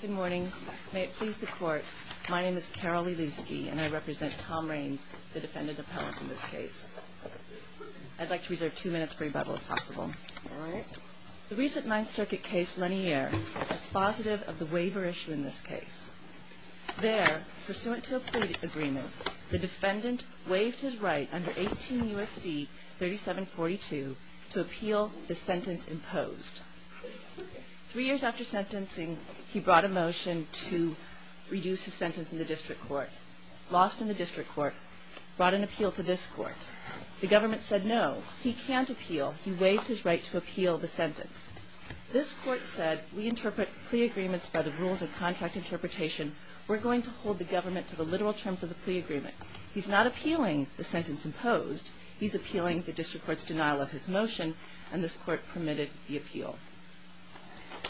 Good morning. May it please the court, my name is Carol Lelewski and I represent Tom Ranes, the defendant appellate in this case. I'd like to reserve two minutes per rebuttal if possible. All right. The recent Ninth Circuit case, Lanier, is dispositive of the waiver issue in this case. There, pursuant to a plea agreement, the defendant waived his right under 18 U.S.C. 3742 to appeal the sentence imposed. Three years after sentencing, he brought a motion to reduce his sentence in the district court. Lost in the district court. Brought an appeal to this court. The government said no, he can't appeal. He waived his right to appeal the sentence. This court said, we interpret plea agreements by the rules of contract interpretation. We're going to hold the government to the literal terms of the plea agreement. He's not appealing the sentence imposed. He's appealing the district court's denial of his motion. And this court permitted the appeal.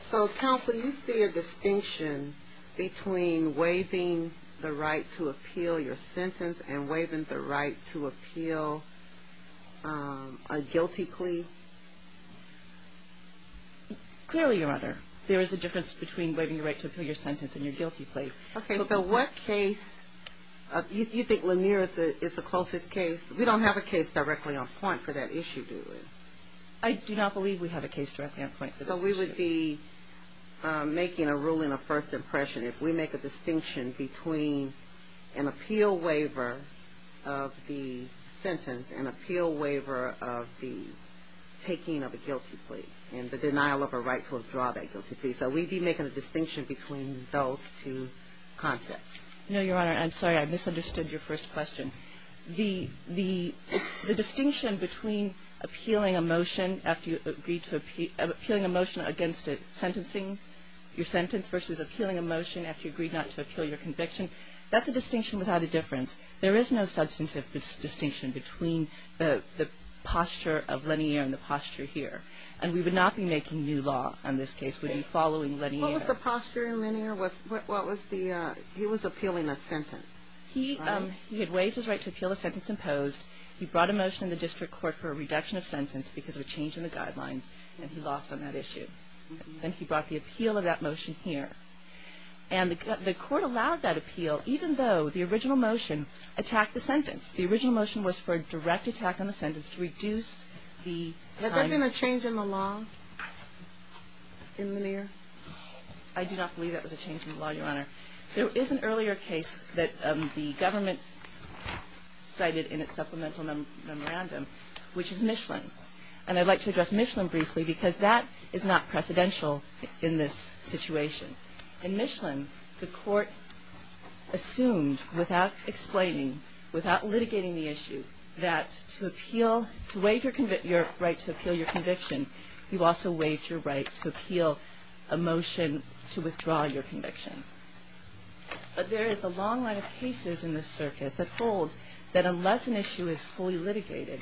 So, counsel, you see a distinction between waiving the right to appeal your sentence and waiving the right to appeal a guilty plea? Clearly, your honor. There is a difference between waiving your right to appeal your sentence and your guilty plea. Okay, so what case – you think Lanier is the closest case? We don't have a case directly on point for that issue, do we? I do not believe we have a case directly on point for this issue. So we would be making a ruling of first impression if we make a distinction between an appeal waiver of the sentence and appeal waiver of the taking of a guilty plea and the denial of a right to withdraw that guilty plea. So we'd be making a distinction between those two concepts. No, your honor. I'm sorry. I misunderstood your first question. The distinction between appealing a motion after you agreed to – appealing a motion against sentencing your sentence versus appealing a motion after you agreed not to appeal your conviction, that's a distinction without a difference. There is no substantive distinction between the posture of Lanier and the posture here. And we would not be making new law on this case. We'd be following Lanier. What was the posture in Lanier? What was the – he was appealing a sentence. He had waived his right to appeal the sentence imposed. He brought a motion in the district court for a reduction of sentence because of a change in the guidelines, and he lost on that issue. Then he brought the appeal of that motion here. And the court allowed that appeal even though the original motion attacked the sentence. The original motion was for a direct attack on the sentence to reduce the time – Has there been a change in the law in Lanier? I do not believe that was a change in the law, your honor. There is an earlier case that the government cited in its supplemental memorandum, which is Michelin. And I'd like to address Michelin briefly because that is not precedential in this situation. In Michelin, the court assumed without explaining, without litigating the issue, that to appeal – to waive your right to appeal your conviction, you've also waived your right to appeal a motion to withdraw your conviction. But there is a long line of cases in this circuit that hold that unless an issue is fully litigated,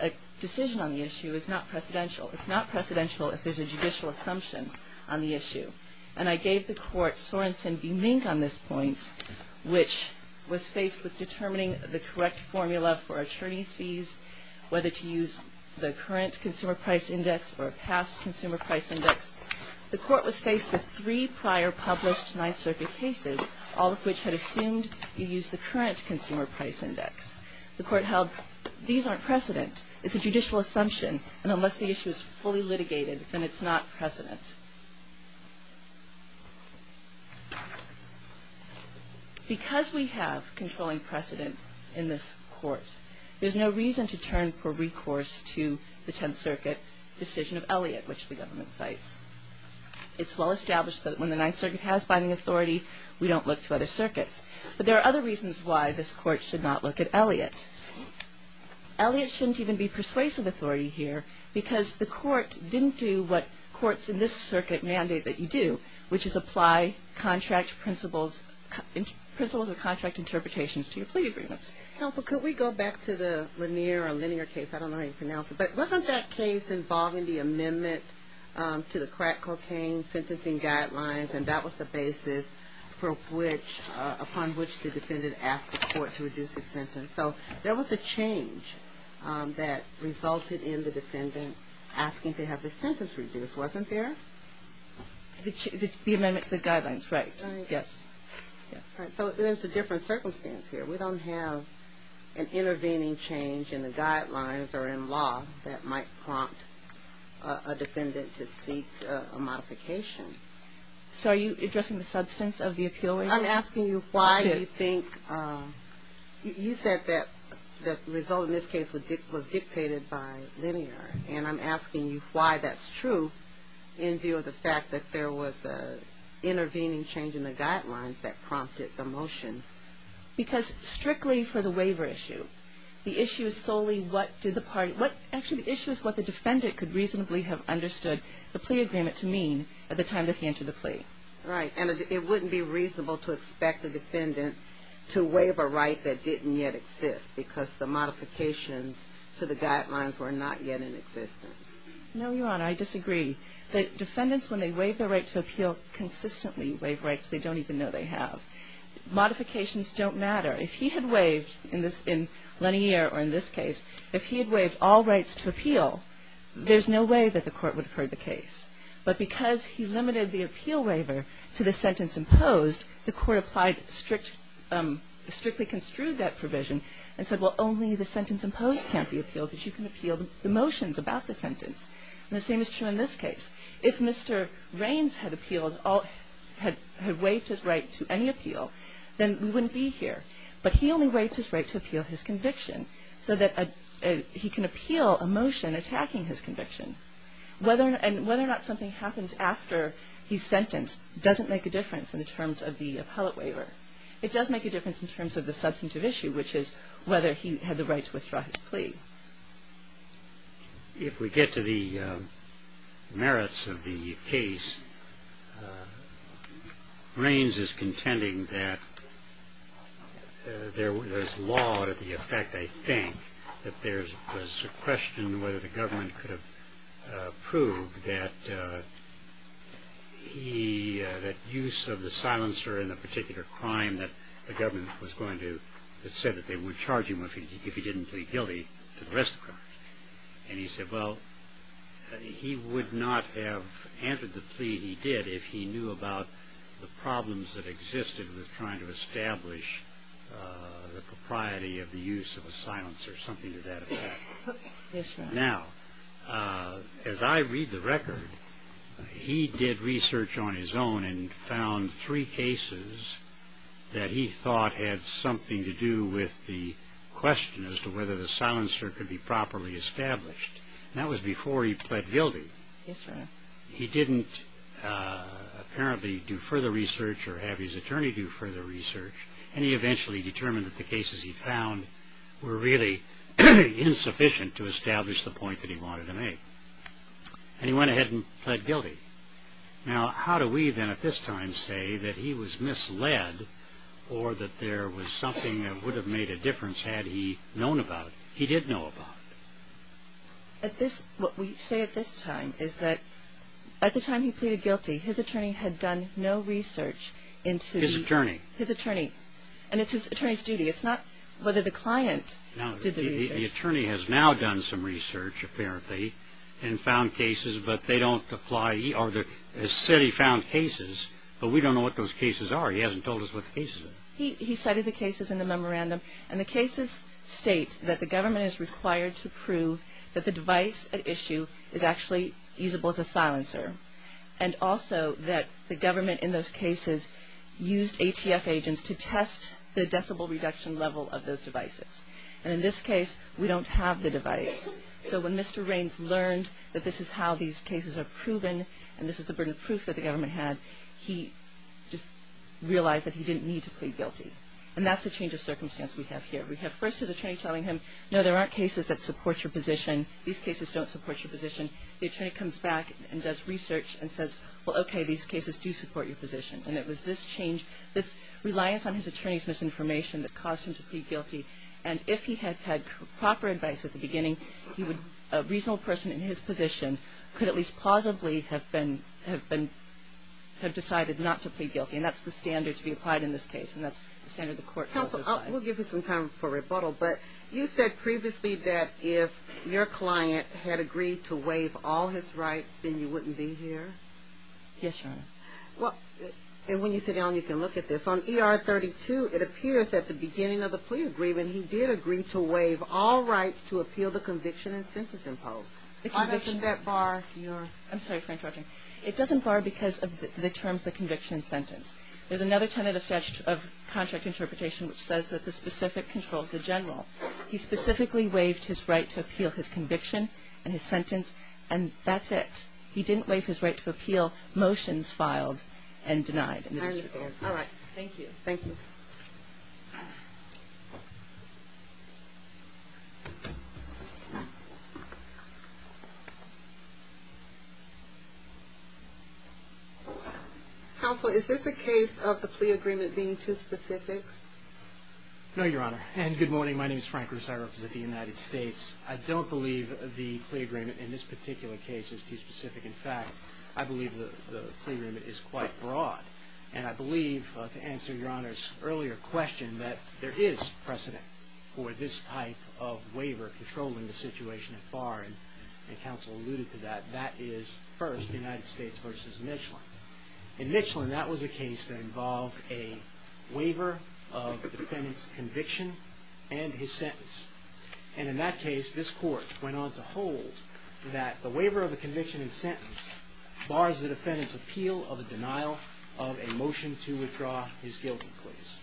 a decision on the issue is not precedential. It's not precedential if there's a judicial assumption on the issue. And I gave the court Sorensen v. Mink on this point, which was faced with determining the correct formula for attorney's fees, whether to use the current consumer price index or a past consumer price index. The court was faced with three prior published Ninth Circuit cases, all of which had assumed you use the current consumer price index. The court held these aren't precedent. It's a judicial assumption. And unless the issue is fully litigated, then it's not precedent. Because we have controlling precedent in this court, there's no reason to turn for recourse to the Tenth Circuit decision of Elliott, which the government cites. It's well established that when the Ninth Circuit has binding authority, we don't look to other circuits. But there are other reasons why this court should not look at Elliott. Elliott shouldn't even be persuasive authority here, because the court didn't do what courts in this circuit do. mandate that you do, which is apply contract principles or contract interpretations to your plea agreements. Counsel, could we go back to the Lanier case? I don't know how you pronounce it. But wasn't that case involving the amendment to the crack cocaine sentencing guidelines, and that was the basis upon which the defendant asked the court to reduce his sentence? So there was a change that resulted in the defendant asking to have his sentence reduced, and this wasn't there? The amendment to the guidelines, right, yes. So there's a different circumstance here. We don't have an intervening change in the guidelines or in law that might prompt a defendant to seek a modification. So are you addressing the substance of the appeal? I'm asking you why you think you said that the result in this case was dictated by Lanier, and I'm asking you why that's true in view of the fact that there was an intervening change in the guidelines that prompted the motion. Because strictly for the waiver issue, the issue is solely what did the party, actually the issue is what the defendant could reasonably have understood the plea agreement to mean at the time that he entered the plea. Right, and it wouldn't be reasonable to expect the defendant to waive a right that didn't yet exist because the modifications to the guidelines were not yet in existence. No, Your Honor, I disagree. The defendants, when they waive their right to appeal, consistently waive rights they don't even know they have. Modifications don't matter. If he had waived in Lanier or in this case, if he had waived all rights to appeal, there's no way that the Court would have heard the case. But because he limited the appeal waiver to the sentence imposed, the Court applied strict, strictly construed that provision and said, well, only the sentence imposed can't be appealed, but you can appeal the motions about the sentence. And the same is true in this case. If Mr. Raines had appealed, had waived his right to any appeal, then we wouldn't be here. But he only waived his right to appeal his conviction so that he can appeal a motion attacking his conviction. And whether or not something happens after he's sentenced doesn't make a difference in terms of the appellate waiver. It does make a difference in terms of the substantive issue, which is whether he had the right to withdraw his plea. If we get to the merits of the case, Raines is contending that there's law to the effect, I think, that there's a question whether the government could have proved that he, that use of the silencer in a particular crime that the government was going to, that said that they would charge him if he didn't plead guilty to the rest of the crimes. And he said, well, he would not have entered the plea he did if he knew about the problems that existed with trying to establish the propriety of the use of a silencer. Something to that effect. Now, as I read the record, he did research on his own and found three cases that he thought had something to do with the question as to whether the silencer could be properly established. And that was before he pled guilty. He didn't apparently do further research or have his attorney do further research. And he eventually determined that the cases he found were really insufficient to establish the point that he wanted to make. And he went ahead and pled guilty. Now, how do we then at this time say that he was misled or that there was something that would have made a difference had he known about it? He did know about it. What we say at this time is that at the time he pleaded guilty, his attorney had done no research into the... And it's his attorney's duty. It's not whether the client did the research. Now, the attorney has now done some research, apparently, and found cases, but they don't apply. He said he found cases, but we don't know what those cases are. He hasn't told us what the cases are. He cited the cases in the memorandum. And the cases state that the government is required to prove that the device at issue is actually usable as a silencer and also that the government in those cases used ATF agents to test the decibel reduction level of those devices. And in this case, we don't have the device. So when Mr. Raines learned that this is how these cases are proven and this is the burden of proof that the government had, he just realized that he didn't need to plead guilty. And that's the change of circumstance we have here. We have first his attorney telling him, no, there aren't cases that support your position. These cases don't support your position. The attorney comes back and does research and says, well, okay, these cases do support your position. And it was this change, this reliance on his attorney's misinformation that caused him to plead guilty. And if he had had proper advice at the beginning, a reasonable person in his position could at least plausibly have been decided not to plead guilty. And that's the standard to be applied in this case, and that's the standard the court will apply. Counsel, we'll give you some time for rebuttal, but you said previously that if your client had agreed to waive all his rights, then you wouldn't be here? Yes, Your Honor. And when you sit down, you can look at this. On ER 32, it appears that at the beginning of the plea agreement, he did agree to waive all rights to appeal the conviction and sentence imposed. Why doesn't that bar your ---- I'm sorry for interrupting. It doesn't bar because of the terms of the conviction and sentence. There's another tenet of contract interpretation which says that the general. He specifically waived his right to appeal his conviction and his sentence, and that's it. He didn't waive his right to appeal motions filed and denied. I understand. All right. Thank you. Thank you. Counsel, is this a case of the plea agreement being too specific? No, Your Honor. And good morning. My name is Frank Russo. I represent the United States. I don't believe the plea agreement in this particular case is too specific. In fact, I believe the plea agreement is quite broad. And I believe, to answer Your Honor's earlier question, that there is precedent for this type of waiver controlling the situation at bar. And counsel alluded to that. That is, first, the United States versus Michelin. In Michelin, that was a case that involved a waiver of the defendant's conviction and his sentence. And in that case, this court went on to hold that the waiver of the conviction and sentence bars the defendant's appeal of a denial of a motion to withdraw his guilty pleas.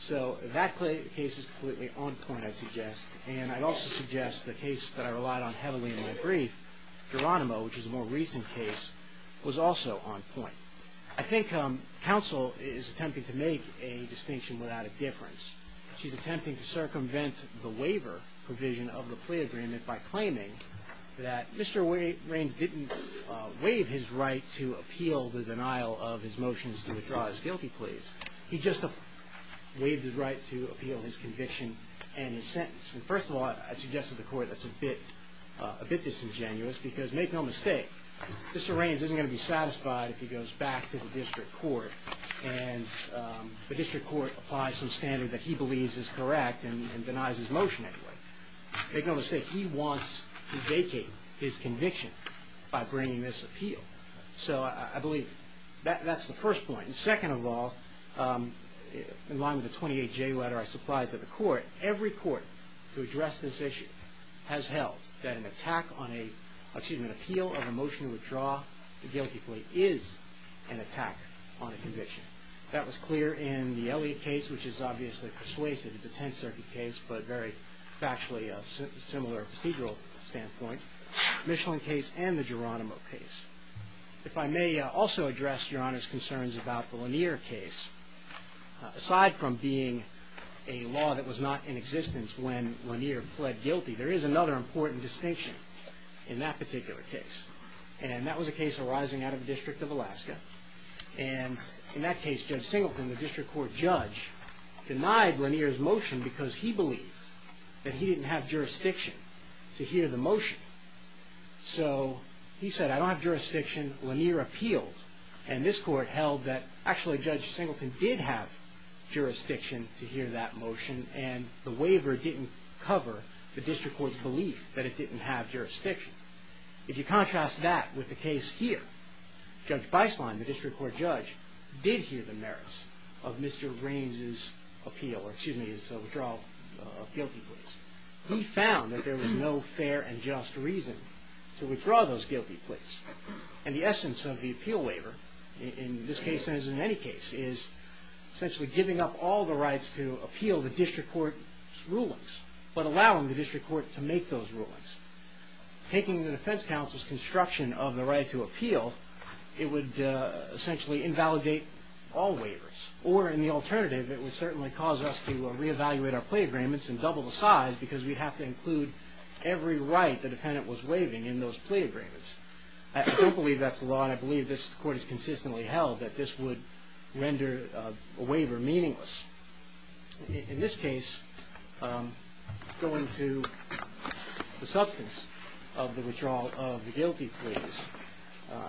So that case is completely on point, I'd suggest. And I'd also suggest the case that I relied on heavily in my brief, Geronimo, which is a more recent case, was also on point. I think counsel is attempting to make a distinction without a difference. She's attempting to circumvent the waiver provision of the plea agreement by claiming that Mr. Raines didn't waive his right to appeal the denial of his motions to withdraw his guilty pleas. He just waived his right to appeal his conviction and his sentence. First of all, I'd suggest to the court that's a bit disingenuous because, make no mistake, Mr. Raines isn't going to be satisfied if he goes back to the district court and the district court applies some standard that he believes is correct and denies his motion anyway. Make no mistake, he wants to vacate his conviction by bringing this appeal. So I believe that's the first point. Second of all, in line with the 28J letter I supplied to the court, every court to address this issue has held that an appeal of a motion to withdraw the guilty plea is an attack on a conviction. That was clear in the Elliott case, which is obviously persuasive. It's a Tenth Circuit case, but very factually similar procedural standpoint. The Michelin case and the Geronimo case. If I may also address Your Honor's concerns about the Lanier case. Aside from being a law that was not in existence when Lanier pled guilty, there is another important distinction in that particular case. And that was a case arising out of the District of Alaska. And in that case, Judge Singleton, the district court judge, denied Lanier's motion because he believed that he didn't have jurisdiction to hear the motion. So he said, I don't have jurisdiction. Lanier appealed. And this court held that actually Judge Singleton did have jurisdiction to hear that motion and the waiver didn't cover the district court's belief that it didn't have jurisdiction. If you contrast that with the case here, Judge Beislein, the district court judge, did hear the merits of Mr. Raines' appeal, or excuse me, his withdrawal of guilty pleas. He found that there was no fair and just reason to withdraw those guilty pleas. And the essence of the appeal waiver in this case, as in any case, is essentially giving up all the rights to appeal the district court's rulings, but allowing the district court to make those rulings. Taking the defense counsel's construction of the right to appeal, it would essentially invalidate all waivers. Or in the alternative, it would certainly cause us to re-evaluate our plea agreements and double the size because we'd have to include every right that the defendant was waiving in those plea agreements. I don't believe that's the law, and I believe this court has consistently held that this would render a waiver meaningless. In this case, going to the substance of the withdrawal of the guilty pleas,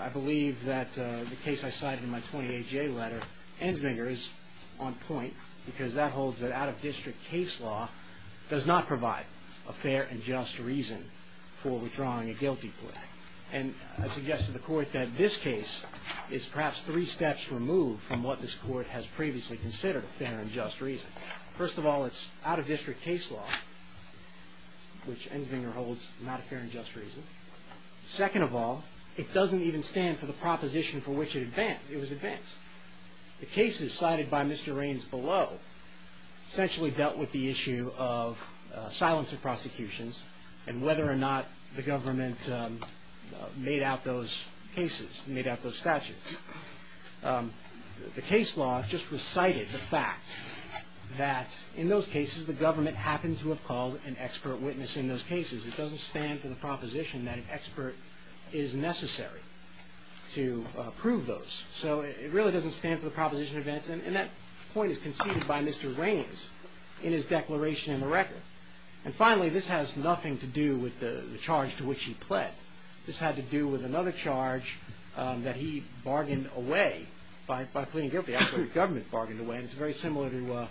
I believe that the case I cited in my 28-J letter ends meagerly on point because that holds that out-of-district case law does not provide a fair and just reason for withdrawing a guilty plea. And I suggest to the court that this case is perhaps three steps removed from what this court has previously considered a fair and just reason. First of all, it's out-of-district case law, which Ensvinger holds not a fair and just reason. Second of all, it doesn't even stand for the proposition for which it advanced. It was advanced. The cases cited by Mr. Raines below essentially dealt with the issue of silence of prosecutions and whether or not the government made out those cases, made out those statutes. The case law just recited the fact that in those cases, the government happened to have called an expert witness in those cases. It doesn't stand for the proposition that an expert is necessary to prove those. So it really doesn't stand for the proposition advanced, and that point is conceded by Mr. Raines in his declaration in the record. And finally, this has nothing to do with the charge to which he pled. This had to do with another charge that he bargained away by pleading guilty. Actually, the government bargained away, and it's very similar to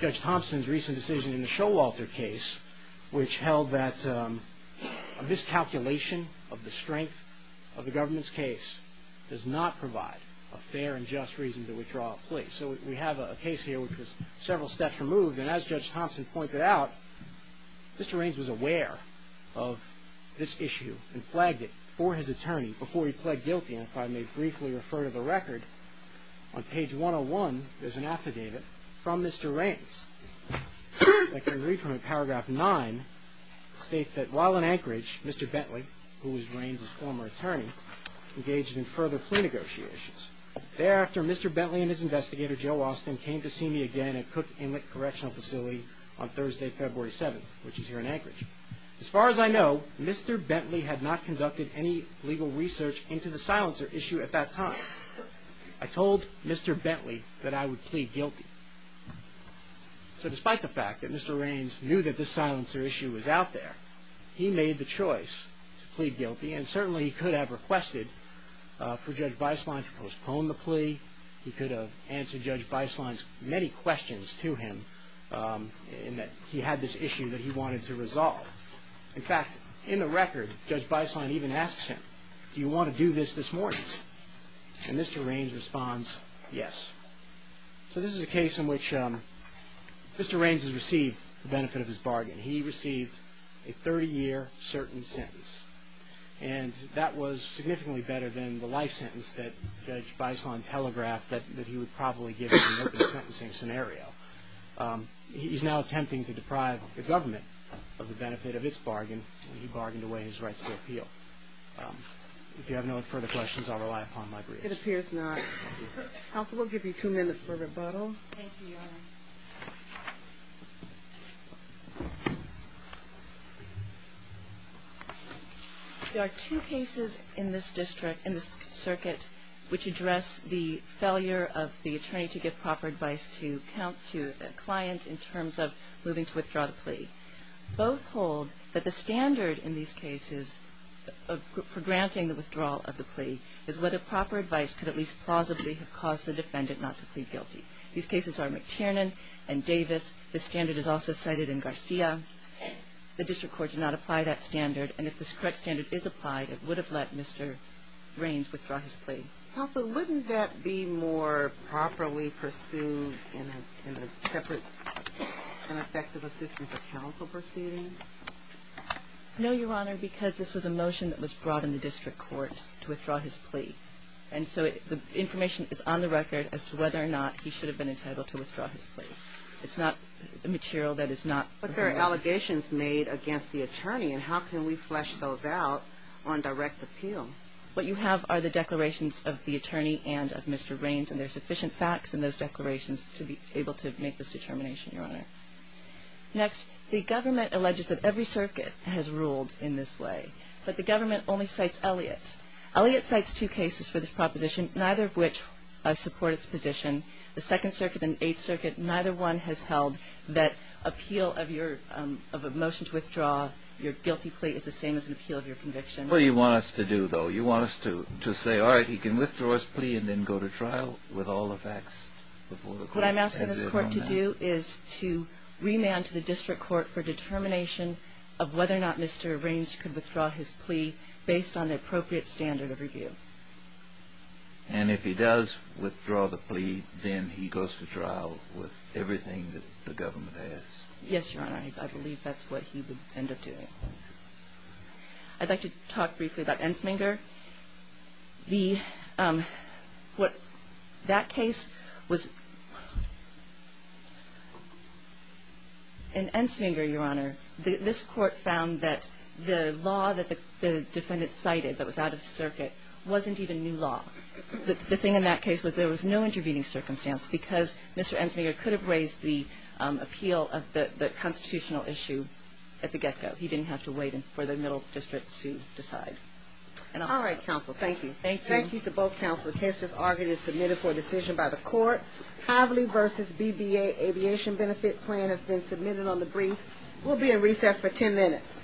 Judge Thompson's recent decision in the Showalter case, which held that a miscalculation of the strength of the government's case does not provide a fair and just reason to withdraw a plea. So we have a case here which was several steps removed, and as Judge Thompson pointed out, Mr. Raines was aware of this issue and flagged it for his attorney before he pled guilty. And if I may briefly refer to the record, on page 101 there's an affidavit from Mr. Raines. I can read from it, paragraph 9, states that while in Anchorage, Mr. Bentley, who was Raines' former attorney, engaged in further plea negotiations. Thereafter, Mr. Bentley and his investigator, Joe Austin, came to see me again at Cook Inlet Correctional Facility on Thursday, February 7th, which is here in Anchorage. As far as I know, Mr. Bentley had not conducted any legal research into the silencer issue at that time. I told Mr. Bentley that I would plead guilty. So despite the fact that Mr. Raines knew that this silencer issue was out there, he made the choice to plead guilty, and certainly he could have requested for Judge Beislein to postpone the plea. He could have answered Judge Beislein's many questions to him in that he had this issue that he wanted to resolve. In fact, in the record, Judge Beislein even asks him, do you want to do this this morning? And Mr. Raines responds, yes. So this is a case in which Mr. Raines has received the benefit of his bargain. He received a 30-year certain sentence, and that was significantly better than the life sentence that Judge Beislein telegraphed that he would probably give in an open sentencing scenario. He's now attempting to deprive the government of the benefit of its bargain, and he bargained away his rights to appeal. If you have no further questions, I'll rely upon my briefs. It appears not. Counsel, we'll give you two minutes for rebuttal. Thank you, Your Honor. There are two cases in this district, in this circuit, which address the failure of the attorney to give proper advice to a client in terms of moving to withdraw the plea. Both hold that the standard in these cases for granting the withdrawal of the plea is whether proper advice could at least plausibly have caused the defendant not to plead guilty. These cases are McTiernan and Davis. The standard is also cited in Garcia. The district court did not apply that standard, and if this correct standard is applied, it would have let Mr. Raines withdraw his plea. Counsel, wouldn't that be more properly pursued in a separate and effective assistance of counsel proceeding? No, Your Honor, because this was a motion that was brought in the district court to withdraw his plea. And so the information is on the record as to whether or not he should have been entitled to withdraw his plea. It's not material that is not— But there are allegations made against the attorney, and how can we flesh those out on direct appeal? What you have are the declarations of the attorney and of Mr. Raines, and there are sufficient facts in those declarations to be able to make this determination, Your Honor. Next, the government alleges that every circuit has ruled in this way, but the government only cites Elliott. Elliott cites two cases for this proposition, neither of which support its position. The Second Circuit and the Eighth Circuit, neither one has held that appeal of a motion to withdraw your guilty plea is the same as an appeal of your conviction. What do you want us to do, though? You want us to say, all right, he can withdraw his plea and then go to trial with all the facts before the court? What I'm asking this court to do is to remand to the district court for determination of whether or not Mr. Raines could withdraw his plea based on the appropriate standard of review. And if he does withdraw the plea, then he goes to trial with everything that the government has? Yes, Your Honor, I believe that's what he would end up doing. I'd like to talk briefly about Ensminger. In Ensminger, Your Honor, this court found that the law that the defendant cited that was out of circuit wasn't even new law. The thing in that case was there was no intervening circumstance because Mr. Ensminger could have raised the appeal of the constitutional issue at the get-go. He didn't have to wait for the middle district to decide. All right, counsel, thank you. Thank you. Thank you to both counsel. The case is argued and submitted for a decision by the court. Haverly v. BBA Aviation Benefit Plan has been submitted on the brief. We'll be in recess for 10 minutes.